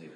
No.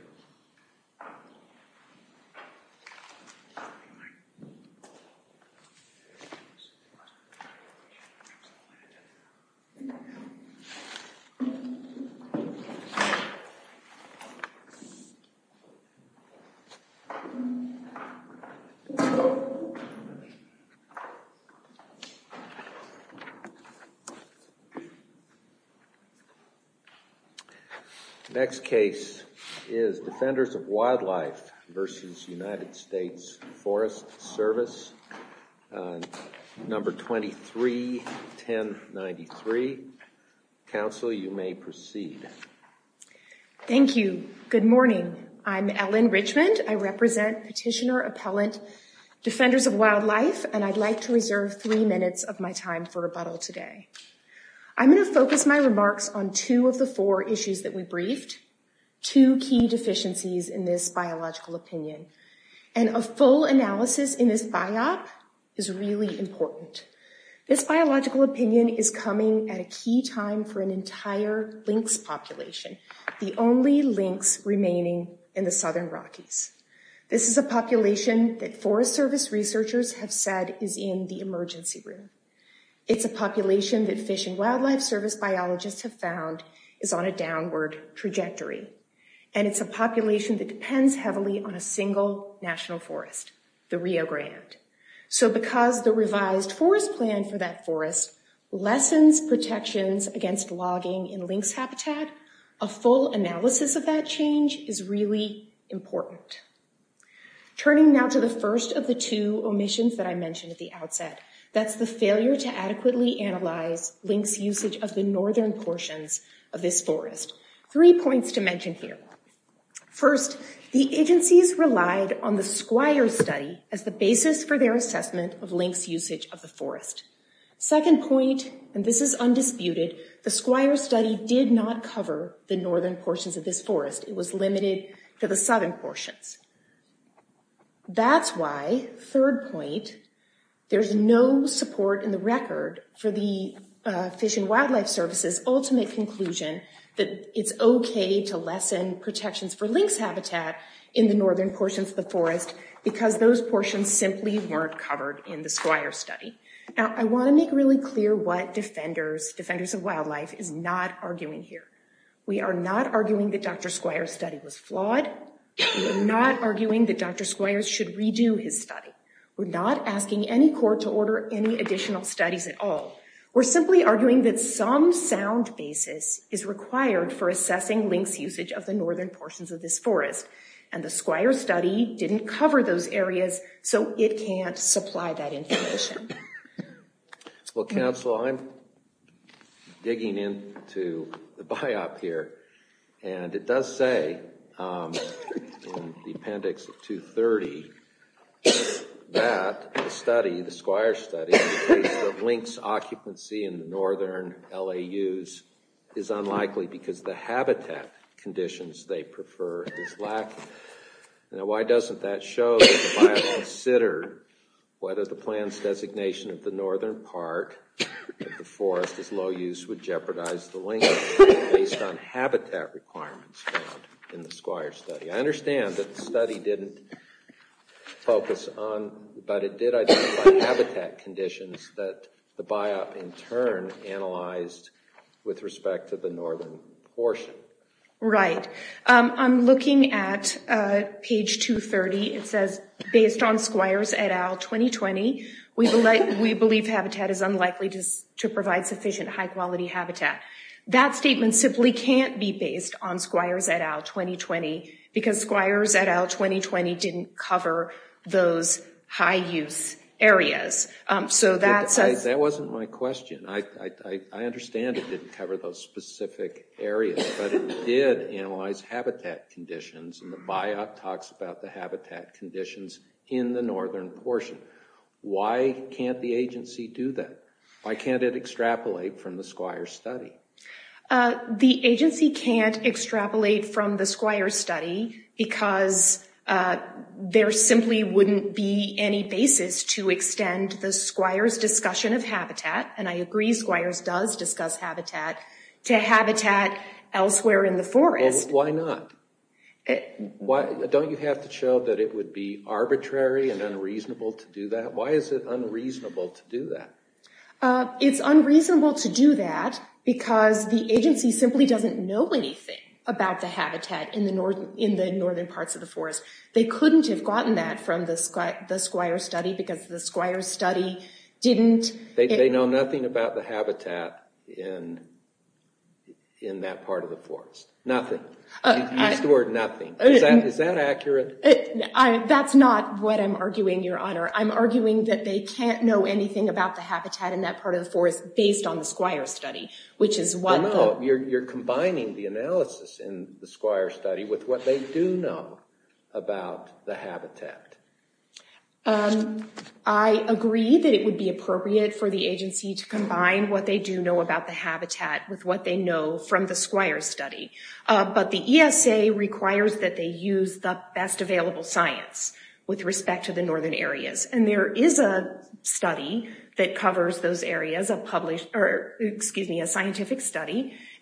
23-1093. Council, you may proceed. Thank you. Good morning. I'm Ellen Richmond. I represent petitioner-appellant Defenders of Wildlife, and I'd like to reserve three minutes of my time for rebuttal today. I'm going to focus my remarks on two of the four issues that we briefed, two key deficiencies in this biological opinion, and a full analysis in this biop is really important. This biological opinion is coming at a key time for an entire lynx population, the only lynx remaining in the southern Rockies. This is a population that Forest Service researchers have said is in the emergency room. It's a population that Fish and Wildlife Service biologists have found is on a downward trajectory, and it's a population that depends heavily on a single national forest, the Rio Grande. So because the revised forest plan for that forest lessens protections against logging in lynx habitat, a full analysis of that change is really important. Turning now to the first of the two omissions that I mentioned at the outset, that's the failure to adequately analyze lynx usage of the northern portions of this forest. Three points to mention here. First, the agencies relied on the Squire study as the basis for their assessment of lynx usage of the forest. Second point, and this is undisputed, the Squire study did not cover the northern portions of this forest. It was limited to the southern portions. That's why, third point, there's no support in the record for the Fish and Wildlife Service's ultimate conclusion that it's okay to lessen protections for lynx habitat in the northern portions of the forest because those portions simply weren't covered in the Squire study. Now, I want to make really clear what Defenders of Wildlife is not arguing here. We are not arguing that Dr. Squires should redo his study. We're not asking any court to order any additional studies at all. We're simply arguing that some sound basis is required for assessing lynx usage of the northern portions of this forest, and the Squire study didn't cover those areas, so it can't supply that information. Well, counsel, I'm digging into the biop here, and it does say in the appendix of 230 that the study, the Squire study, the lynx occupancy in the northern LAUs is unlikely because the habitat conditions they prefer is lacking. Now, why doesn't that show that the biop considered whether the plan's designation of the northern part of the forest as low use would jeopardize the lynx based on habitat requirements found in the Squire study? I understand that the study didn't focus on, but it did identify habitat conditions that the biop in turn analyzed with respect to the northern portion. Right. I'm looking at page 230. It says based on Squires et al. 2020, we believe habitat is unlikely to provide sufficient high quality habitat. That statement simply can't be based on Squires et al. 2020 because Squires et al. 2020 didn't cover those high use areas. So that's a... That wasn't my question. I understand it didn't cover those specific areas, but it did analyze habitat conditions, and the biop talks about the habitat conditions in the northern portion. Why can't the agency do that? Why can't it extrapolate from the Squire study? The agency can't extrapolate from the Squire study because there simply wouldn't be any basis to extend the Squires discussion of habitat, and I agree Squires does discuss habitat, to habitat elsewhere in the forest. Well, why not? Don't you have to show that it would be arbitrary and unreasonable to do that? Why is it unreasonable to do that? It's unreasonable to do that because the agency simply doesn't know anything about the habitat in the northern parts of the forest. They couldn't have gotten that from the Squire study because the Squire study didn't... They know nothing about the habitat in that part of the forest. Nothing. Use the word nothing. Is that accurate? That's not what I'm arguing, your honor. I'm arguing that they can't know anything about the habitat in that part of the forest based on the You're combining the analysis in the Squire study with what they do know about the habitat. I agree that it would be appropriate for the agency to combine what they do know about the habitat with what they know from the Squire study, but the ESA requires that they use the best available science with respect to the northern areas, and there is a study that covers those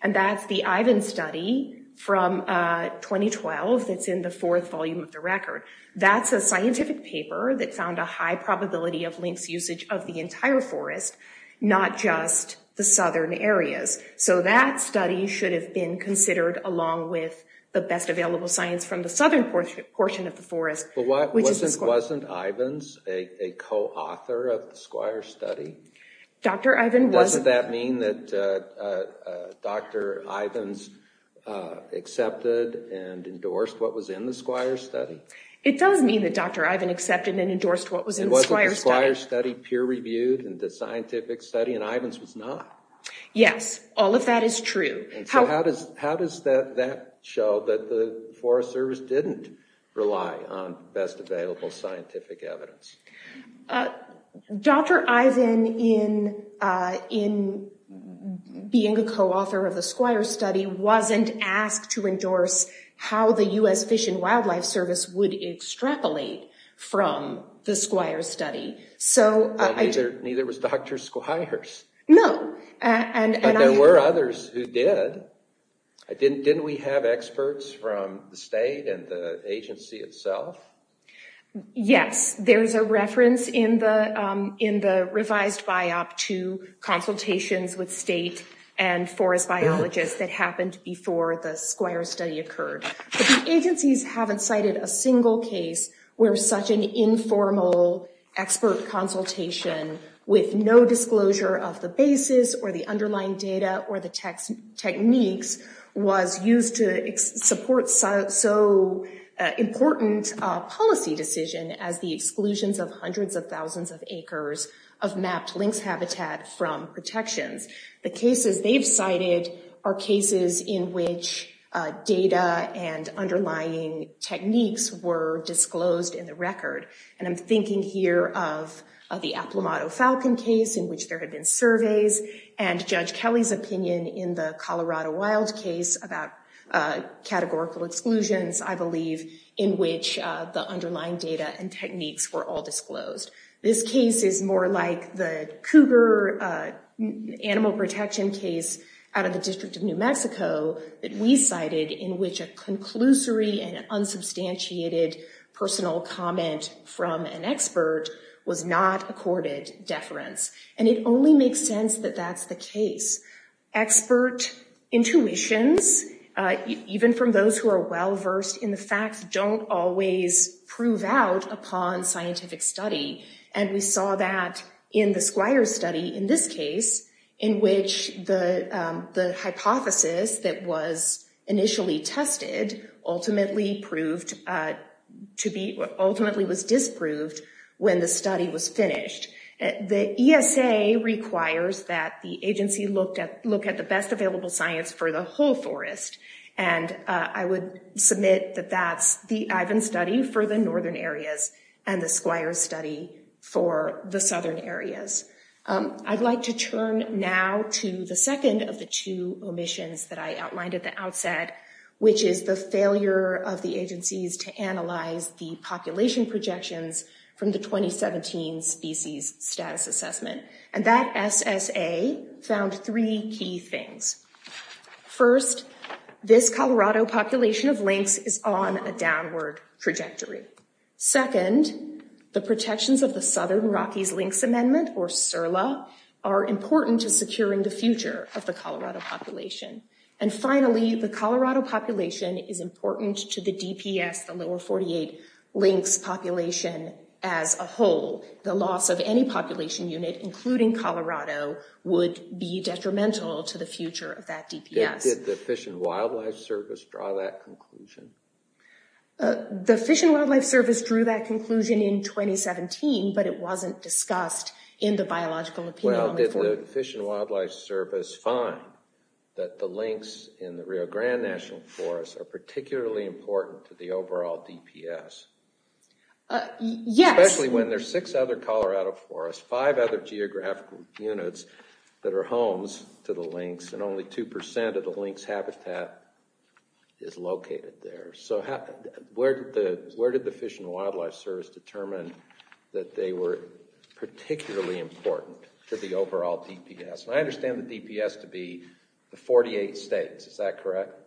and that's the Ivins study from 2012 that's in the fourth volume of the record. That's a scientific paper that found a high probability of lynx usage of the entire forest, not just the southern areas. So that study should have been considered along with the best available science from the southern portion of the forest. Wasn't Ivins a co-author of the Squire study? Doesn't that mean that Dr. Ivins accepted and endorsed what was in the Squire study? It does mean that Dr. Ivins accepted and endorsed what was in the Squire study. Wasn't the Squire study peer-reviewed and the scientific study and Ivins was not? Yes, all of that is true. And so how does that show that the Forest Service didn't rely on best available scientific evidence? Dr. Ivins, in being a co-author of the Squire study, wasn't asked to endorse how the U.S. Fish and Wildlife Service would extrapolate from the Squire study. Neither was Dr. Squires. No. But there were others who did. Didn't we have experts from the state and the agency itself? Yes, there's a reference in the revised biop to consultations with state and forest biologists that happened before the Squire study occurred. But the agencies haven't cited a single case where such an informal expert consultation with no disclosure of the basis or the underlying data or the techniques was used to support so important a policy decision as the exclusions of hundreds of thousands of acres of mapped lynx habitat from protections. The cases they've cited are cases in which data and underlying techniques were disclosed in the record. And I'm thinking here of the Aplomado Falcon case in which there had been surveys and Judge Kelly's opinion in the Colorado Wild case about categorical exclusions, I believe, in which the underlying data and techniques were all disclosed. This case is more like the Cougar animal protection case out of the District of New Mexico that we cited in which a conclusory and unsubstantiated personal comment from an expert was not accorded deference. And it only makes sense that that's the case. Expert intuitions, even from those who are well-versed in the facts, don't always prove out upon scientific study. And we saw that in the Squire study in this case in which the hypothesis that was initially tested ultimately was disproved when the study was finished. The ESA requires that the agency look at the best available science for the whole forest. And I would submit that that's the Ivan study for the northern areas and the Squire study for the I outlined at the outset, which is the failure of the agencies to analyze the population projections from the 2017 species status assessment. And that SSA found three key things. First, this Colorado population of lynx is on a downward trajectory. Second, the protections of the Southern Rockies Lynx Amendment, or SIRLA, are important to securing the future of the Colorado population. And finally, the Colorado population is important to the DPS, the lower 48 lynx population as a whole. The loss of any population unit, including Colorado, would be detrimental to the future of that DPS. Did the Fish and Wildlife Service draw that conclusion? The Fish and Wildlife Service drew that conclusion in 2017, but it wasn't discussed in the biological opinion. Well, did the Fish and Wildlife Service find that the lynx in the Rio Grande National Forest are particularly important to the overall DPS? Yes. Especially when there's six other Colorado forests, five other geographical units that are homes to the lynx, and only two percent of the lynx habitat is located there. So where did the Wildlife Service determine that they were particularly important to the overall DPS? And I understand the DPS to be the 48 states, is that correct?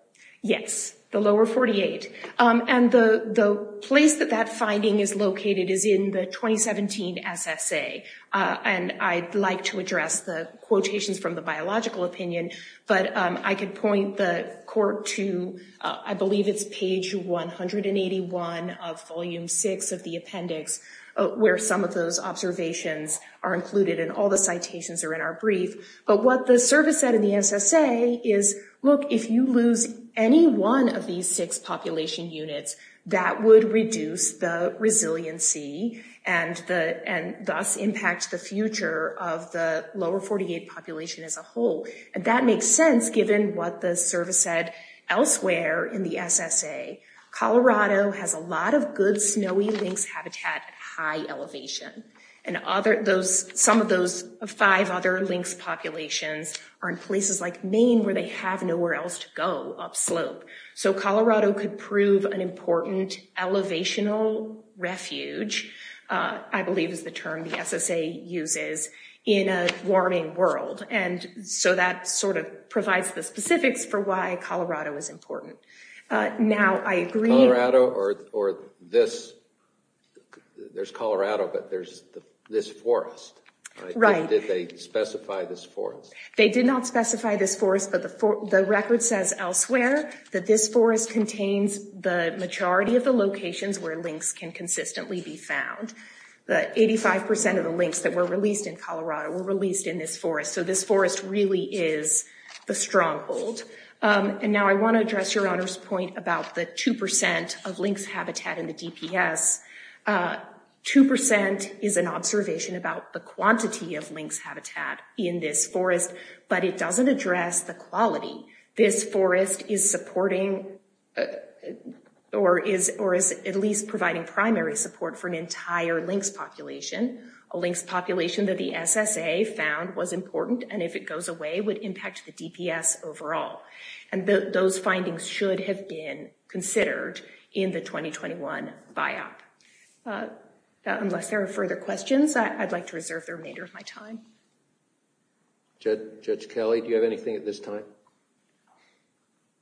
Yes, the lower 48. And the place that that finding is located is in the 2017 SSA. And I'd like to address the quotations from the six of the appendix, where some of those observations are included, and all the citations are in our brief. But what the service said in the SSA is, look, if you lose any one of these six population units, that would reduce the resiliency and thus impact the future of the lower 48 population as a whole. And that makes sense, given what the service said elsewhere in the SSA. Colorado has a lot of good snowy lynx habitat at high elevation. And some of those five other lynx populations are in places like Maine, where they have nowhere else to go upslope. So Colorado could prove an important elevational refuge, I believe is the term the SSA uses, in a warming world. And so that sort of provides the specifics for why Colorado is important. Now, I agree... Colorado or this, there's Colorado, but there's this forest, right? Did they specify this forest? They did not specify this forest, but the record says elsewhere that this forest contains the majority of the locations where lynx can consistently be found. The 85% of the lynx that were released in Colorado were released in this forest. So this forest really is the stronghold. And now I want to address Your Honor's point about the 2% of lynx habitat in the DPS. 2% is an observation about the quantity of lynx habitat in this forest, but it doesn't address the quality. This forest is supporting, or is at least providing primary support for an entire lynx population. A lynx population that the SSA found was important, and if it goes away, would impact the DPS overall. And those findings should have been considered in the 2021 BIOP. Unless there are further questions, I'd like to reserve the remainder of my time. Judge Kelly, do you have anything at this time?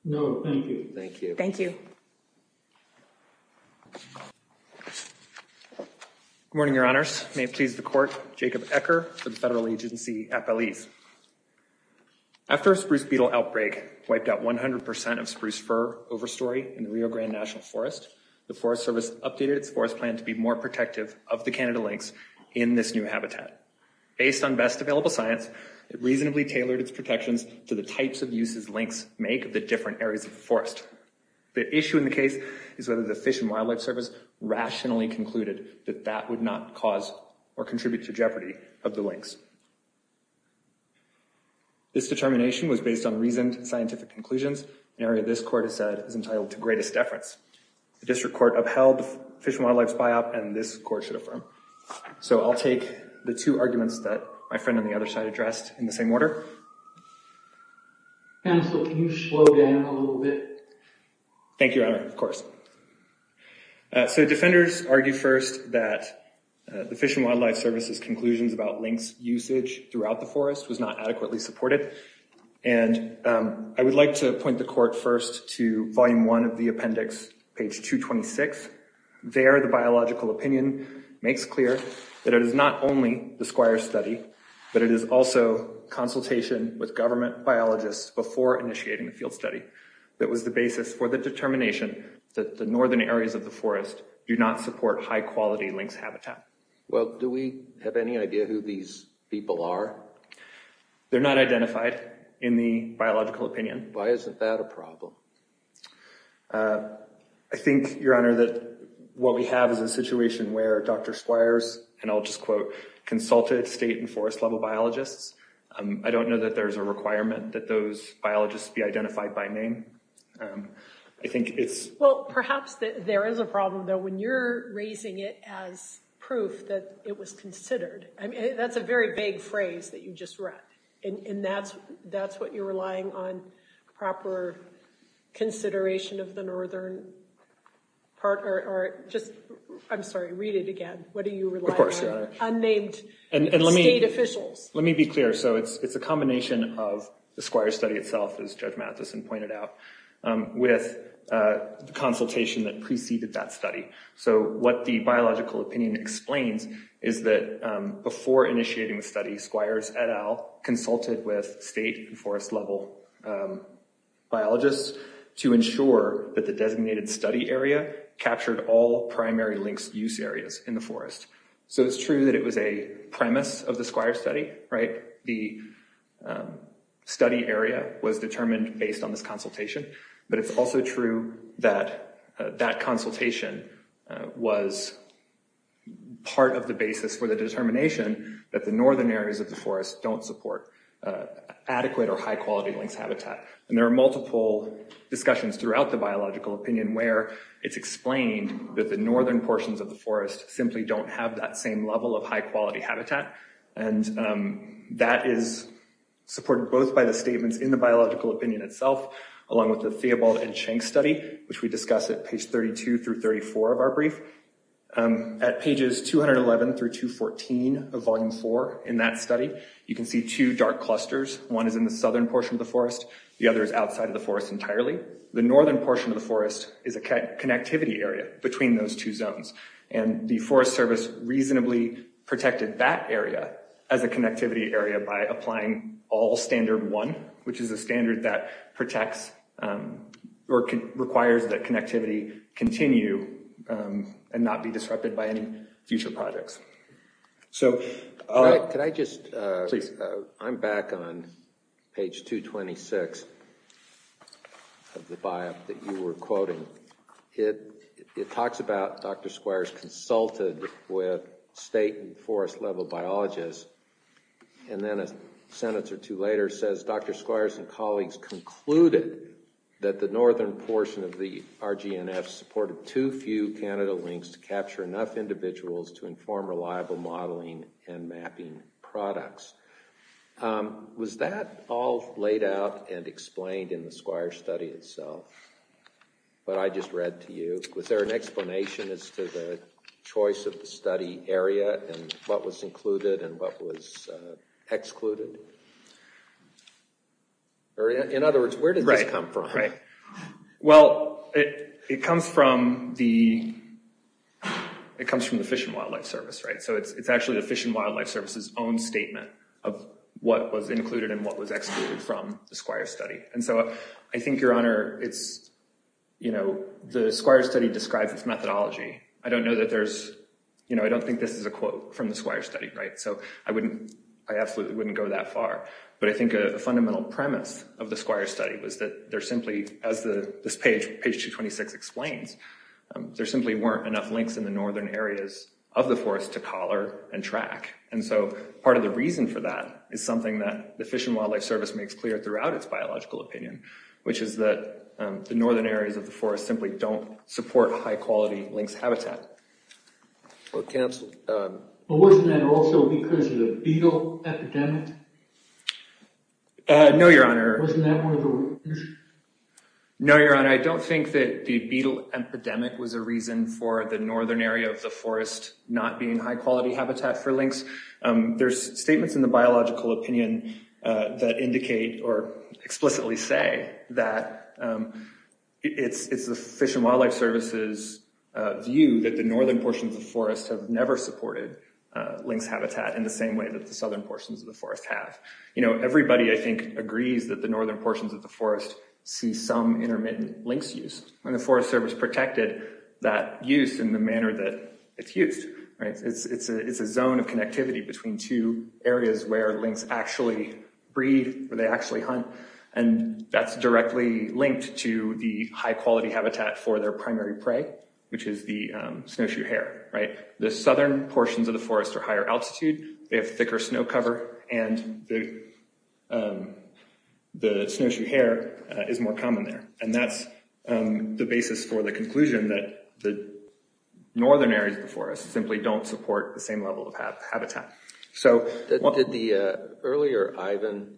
No, thank you. Thank you. Thank you. Good morning, Your Honors. May it please the Court, Jacob Ecker for the Federal Agency at Belize. After a spruce beetle outbreak wiped out 100% of spruce fir overstory in the Rio Grande National Forest, the Forest Service updated its forest plan to be more protective of the Canada lynx in this new habitat. Based on best available science, it reasonably tailored its protections to the types of uses lynx make of the different areas of the forest. The issue in the case is whether the Fish and Wildlife Service rationally concluded that that would not cause or contribute to jeopardy of the lynx. This determination was based on reasoned scientific conclusions, an area this Court has said is entitled to greatest deference. The District Court upheld Fish and Wildlife's BIOP and this Court should affirm. So I'll take the two arguments that my friend on the other side addressed in the same order. Counsel, can you slow down a little bit? Thank you, Your Honor, of course. So defenders argue first that the Fish and Wildlife Service's conclusions about lynx usage throughout the forest was not adequately supported. And I would like to point the Court first to volume one of the appendix, page 226. There, the biological opinion makes clear that it is not only the Squire study, but it is also consultation with government biologists before initiating the field study that was the basis for the determination that the northern areas of the forest do not support high-quality lynx habitat. Well, do we have any idea who these people are? They're not identified in the biological opinion. Why isn't that a problem? I think, Your Honor, that what we have is a situation where Dr. Squires, and I'll just I don't know that there's a requirement that those biologists be identified by name. I think it's... Well, perhaps that there is a problem, though, when you're raising it as proof that it was considered. I mean, that's a very vague phrase that you just read. And that's what you're relying on proper consideration of the northern part, or just, I'm sorry, read it again. What are you relying on? Unnamed state officials. Let me be clear. So it's a combination of the Squire study itself, as Judge Matheson pointed out, with the consultation that preceded that study. So what the biological opinion explains is that before initiating the study, Squires, et al., consulted with state and forest level biologists to ensure that the designated study area captured all primary lynx use areas in the forest. So it's true that it was a premise of the Squire study, right? The study area was determined based on this consultation. But it's also true that that consultation was part of the basis for the determination that the northern areas of the forest don't support adequate or high quality lynx habitat. And there are multiple discussions throughout the biological opinion where it's explained that the northern portions of the forest simply don't have that same level of high quality habitat. And that is supported both by the statements in the biological opinion itself, along with the Theobald and Schenk study, which we discuss at page 32 through 34 of our brief. At pages 211 through 214 of volume four in that study, you can see two dark clusters. One is in the southern portion of the forest. The other is outside of the forest entirely. The northern portion of the forest is a connectivity area between those two zones. And the Forest Service reasonably protected that area as a connectivity area by applying all standard one, which is a standard that protects or requires that connectivity continue and not be disrupted by any future projects. So... Could I just... Please. I'm back on talks about Dr. Squires consulted with state and forest level biologists. And then a sentence or two later says, Dr. Squires and colleagues concluded that the northern portion of the RGNF supported too few Canada lynx to capture enough individuals to inform reliable modeling and mapping products. Was that all laid out and explained in the Squire study itself? What I just read to you? Was there an explanation as to the choice of the study area and what was included and what was excluded? In other words, where did this come from? Right. Well, it comes from the Fish and Wildlife Service, right? So it's actually the Fish and Wildlife Service's own statement of what was included and what was excluded from the Squire study. And so I think, Your Honor, it's, you know, the Squire study describes its methodology. I don't know that there's, you know, I don't think this is a quote from the Squire study, right? So I wouldn't, I absolutely wouldn't go that far. But I think a fundamental premise of the Squire study was that there simply, as this page, page 226 explains, there simply weren't enough links in the northern areas of the forest to collar and track. And so part of the reason for that is something that the Fish and the Wildlife Service says is that the northern areas of the forest simply don't support high-quality lynx habitat. But wasn't that also because of the beetle epidemic? No, Your Honor. No, Your Honor, I don't think that the beetle epidemic was a reason for the northern area of the forest not being high-quality habitat for lynx. There's statements in the biological opinion that indicate or explicitly say that it's the Fish and Wildlife Service's view that the northern portions of the forest have never supported lynx habitat in the same way that the southern portions of the forest have. You know, everybody, I think, agrees that the northern portions of the forest see some intermittent lynx use. And the Forest Service protected that use in the manner that it's used. It's a zone of connectivity between two areas where lynx actually breed, where they actually hunt, and that's directly linked to the high-quality habitat for their primary prey, which is the snowshoe hare. The southern portions of the forest are higher altitude, they have thicker snow cover, and the snowshoe hare is more common there. And that's the basis for the conclusion that the northern areas of the forest simply don't support the same level of habitat. Did the earlier Ivan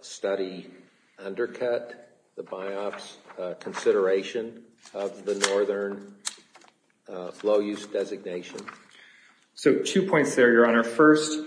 study undercut the BiOPS consideration of the northern low-use designation? So two points there, Your Honor. First,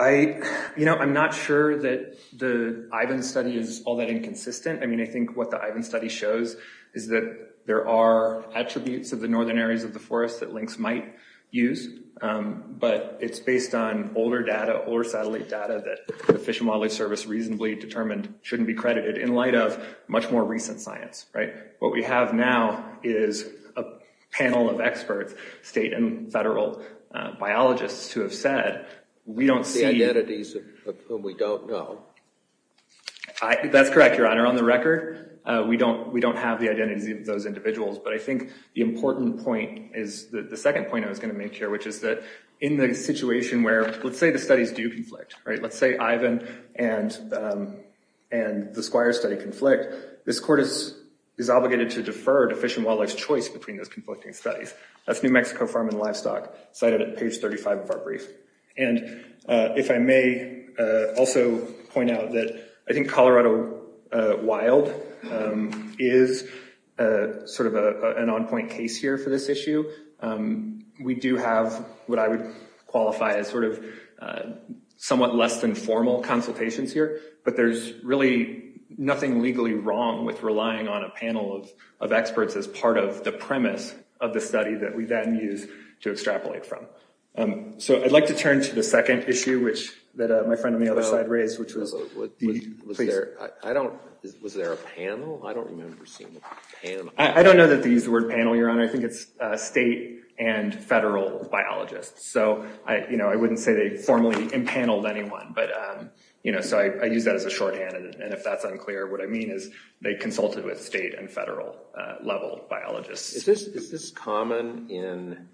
I'm not sure that the Ivan study is all that inconsistent. I mean, I think what the Ivan study shows is that there are attributes of the northern areas of the forest that lynx might use, but it's based on older data, older satellite data, that the Fish and Wildlife Service reasonably determined shouldn't be credited in light of much more recent science, right? What we have now is a panel of experts, state and federal biologists, who have said, we don't see... The identities of whom we don't know. That's correct, Your Honor. On the record, we don't have the identities of those individuals, but I think the important point is the second point I was going to make here, which is that in the situation where, let's say the studies do conflict, right? Let's say Ivan and the Squire study conflict, this court is obligated to defer to Fish and Wildlife's choice between those conflicting studies. That's New Mexico Farm and Livestock, cited at page 35 of our brief. And if I may also point out that I think Colorado Wild is sort of an on-point case here for this issue. We do have what I would qualify as sort of somewhat less than formal consultations here, but there's really nothing legally wrong with relying on a panel of experts as part of the second issue that my friend on the other side raised. Was there a panel? I don't remember seeing a panel. I don't know that they use the word panel, Your Honor. I think it's state and federal biologists. So I wouldn't say they formally impaneled anyone. So I use that as a shorthand, and if that's unclear, what I mean is they consulted with state and federal level biologists. Is this common in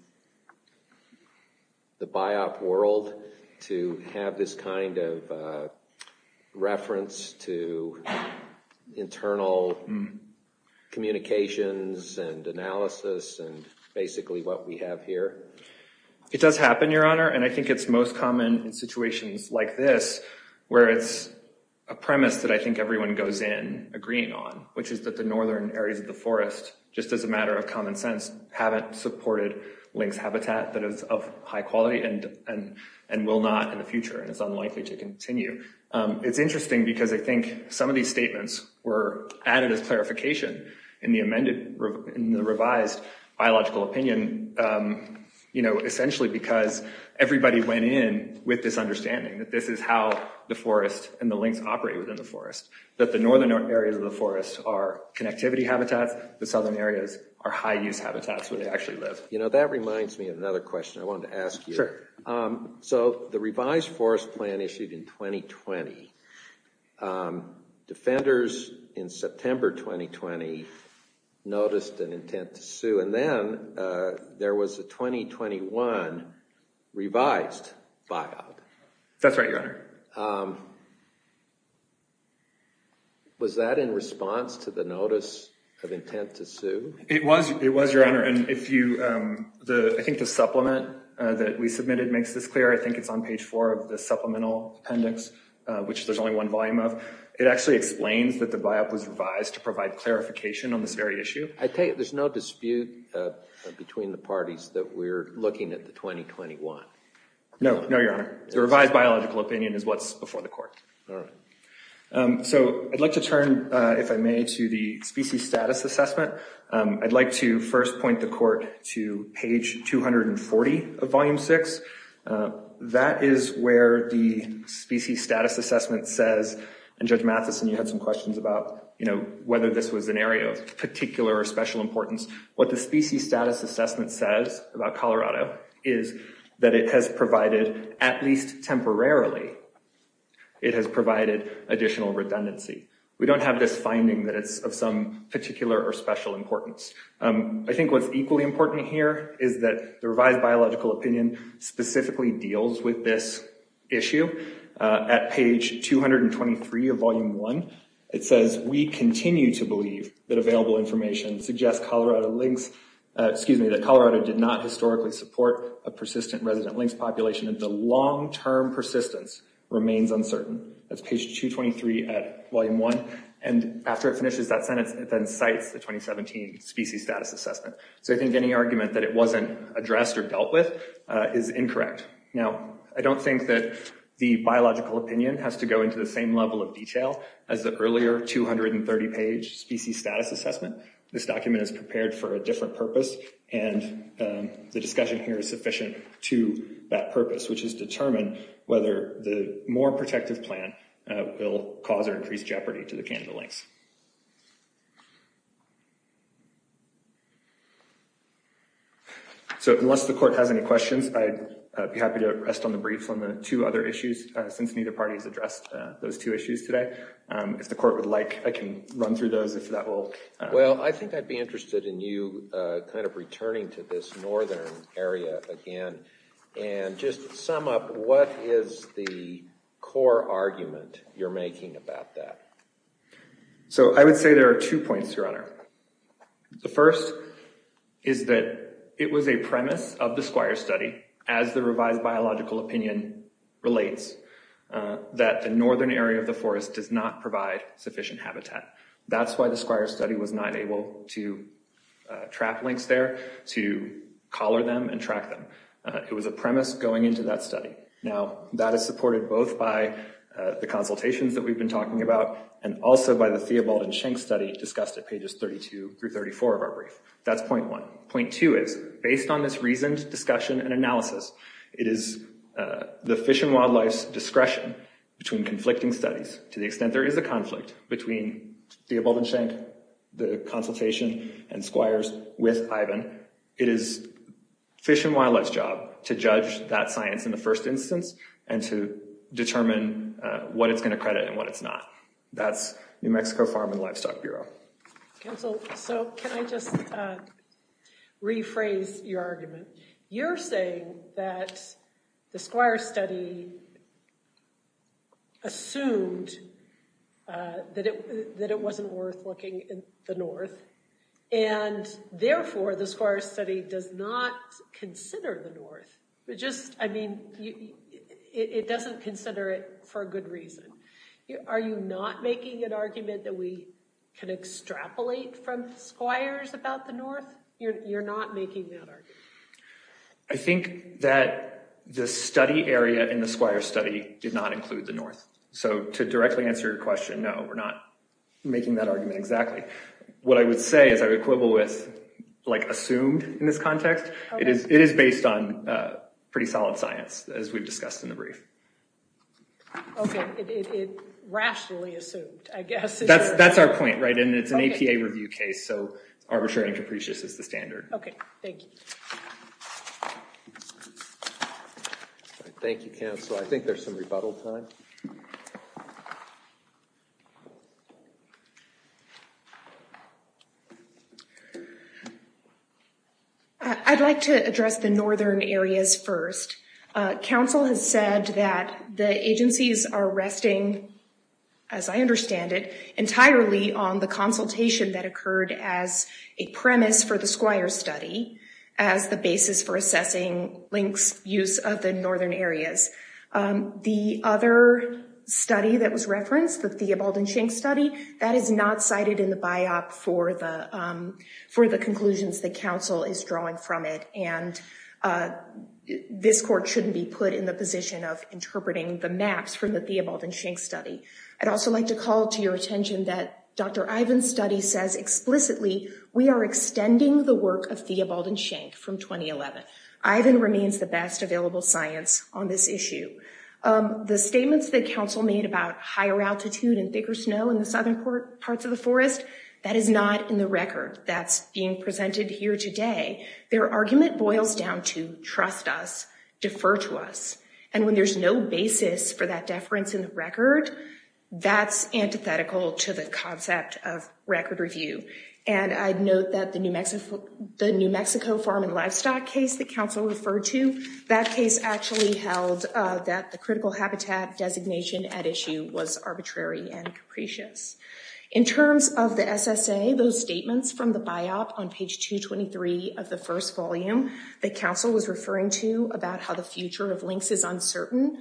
the biop world to have this kind of reference to internal communications and analysis and basically what we have here? It does happen, Your Honor, and I think it's most common in situations like this where it's a premise that I think everyone goes in agreeing on, which is that the northern areas of the common sense haven't supported lynx habitat that is of high quality and will not in the future, and it's unlikely to continue. It's interesting because I think some of these statements were added as clarification in the amended, in the revised biological opinion, essentially because everybody went in with this understanding that this is how the forest and the lynx operate within the forest, that the northern areas of the forest are connectivity habitats, the southern areas are high use habitats where they actually live. You know, that reminds me of another question I wanted to ask you. So the revised forest plan issued in 2020, defenders in September 2020 noticed an intent to sue, and then there was a 2021 revised biop. That's right, Your Honor. Was that in response to the notice of intent to sue? It was, Your Honor, and I think the supplement that we submitted makes this clear. I think it's on page four of the supplemental appendix, which there's only one volume of. It actually explains that the biop was revised to provide clarification on this very issue. I take it there's no dispute between the parties that we're looking at the 2021? No, no, Your Honor. The revised biological opinion is what's before the court. All right. So I'd like to turn, if I may, to the species status assessment. I'd like to first point the court to page 240 of volume six. That is where the species status assessment says, and Judge Matheson, you had some questions about, you know, whether this was an area of particular or special importance. What the species status assessment says about Colorado is that it has provided, at least temporarily, it has provided additional redundancy. We don't have this finding that it's of some particular or special importance. I think what's equally important here is that the revised biological opinion specifically deals with this issue. At page 223 of volume one, it says, we continue to believe that available information suggests Colorado lynx, excuse me, that Colorado did not historically support a persistent resident lynx population, and the long-term persistence remains uncertain. That's page 223 at volume one. And after it finishes that sentence, it then cites the 2017 species status assessment. So I think any argument that it wasn't addressed or dealt with is incorrect. Now, I don't think that the biological opinion has to go into the same level of detail as the earlier 230-page species status assessment. This document is prepared for a different purpose, and the discussion here is sufficient to that purpose, which is determine whether the more protective plan will cause or increase jeopardy to the Canada lynx. So unless the court has any questions, I'd be happy to rest on the brief on the two other issues, since neither party has addressed those two issues today. If the court would like, I can run through those. Well, I think I'd be interested in you kind of returning to this northern area again and just sum up what is the core argument you're making about that. So I would say there are two points, Your Honor. The first is that it was a premise of the Squire study, as the revised biological opinion relates, that the northern area of the forest does not provide sufficient habitat. That's why the Squire study was not able to trap lynx there, to collar them and track them. It was a premise going into that study. Now, that is supported both by the consultations that we've been talking about and also by the Theobald and Schenk study discussed at pages 32 through 34 of our brief. That's point one. Point two is, based on this reasoned discussion and analysis, it is the fish and wildlife's discretion between conflicting studies, to the extent there is a conflict between Theobald and Schenk, the consultation, and Squires with Ivan. It is fish and wildlife's job to judge that science in the first instance and to determine what it's going to credit and what it's not. That's New Mexico Farm and Livestock Bureau. Counsel, so can I just rephrase your argument? You're saying that the Squire study assumed that it wasn't worth looking in the north and therefore the Squire study does not consider the north. It just, I mean, it doesn't consider it for a good reason. Are you not making an argument that we can extrapolate from Squires about the north? You're not making that argument. I think that the study area in the Squire study did not include the north. So to directly answer your question, no, we're not making that argument exactly. What I would say is I would quibble with like assumed in this context. It is based on pretty solid science as we've discussed in the brief. Okay, it rationally assumed, I guess. That's our point, right? And it's an APA review case, so arbitrary and capricious is the standard. Okay, thank you. Thank you, Counsel. I think there's some rebuttal time. I'd like to address the northern areas first. Counsel has said that the agencies are resting, as I understand it, entirely on the consultation that occurred as a premise for the Squire study, as the basis for assessing LINC's use of the northern areas. The other study that was referenced, the Theobald and Schenck study, that is not cited in the biop for the conclusions that Counsel is drawing from it. And this court shouldn't be put in the position of interpreting the maps from the Theobald and Schenck study. I'd also like to call to your attention that Dr. Ivan's study says explicitly we are extending the work of Theobald and Schenck from 2011. Ivan remains the best available science on this issue. The statements that Counsel made about higher altitude and thicker snow in the southern parts of the forest, that is not in the record that's being presented here today. Their argument boils down to trust us, defer to us, and when there's no basis for that deference in the record, that's antithetical to the concept of record review. And I'd note that the New Mexico farm and livestock case that Counsel referred to, that case actually held that the critical habitat designation at issue was arbitrary and capricious. In terms of the SSA, those statements from the biop on page 223 of the first volume that Counsel was referring to about how the future of LINC's is uncertain,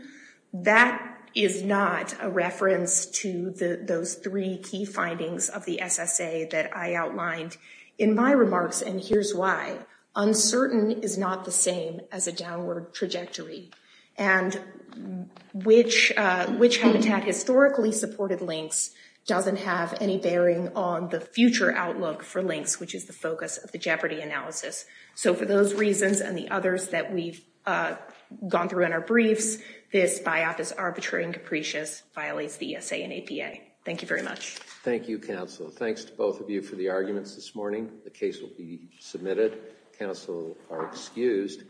that is not a reference to those three key findings of the SSA that I outlined in my remarks, and here's why. Uncertain is not the same as a downward trajectory, and which habitat historically supported LINC's doesn't have any bearing on the future outlook for LINC's, which is the focus of the Jeopardy analysis. So for those reasons and the others that we've gone through in our briefs, this biop is arbitrary and capricious, violates the SSA and APA. Thank you very much. Thank you Counsel. Thanks to both of you for the arguments this morning. The case will be submitted. Counsel are excused.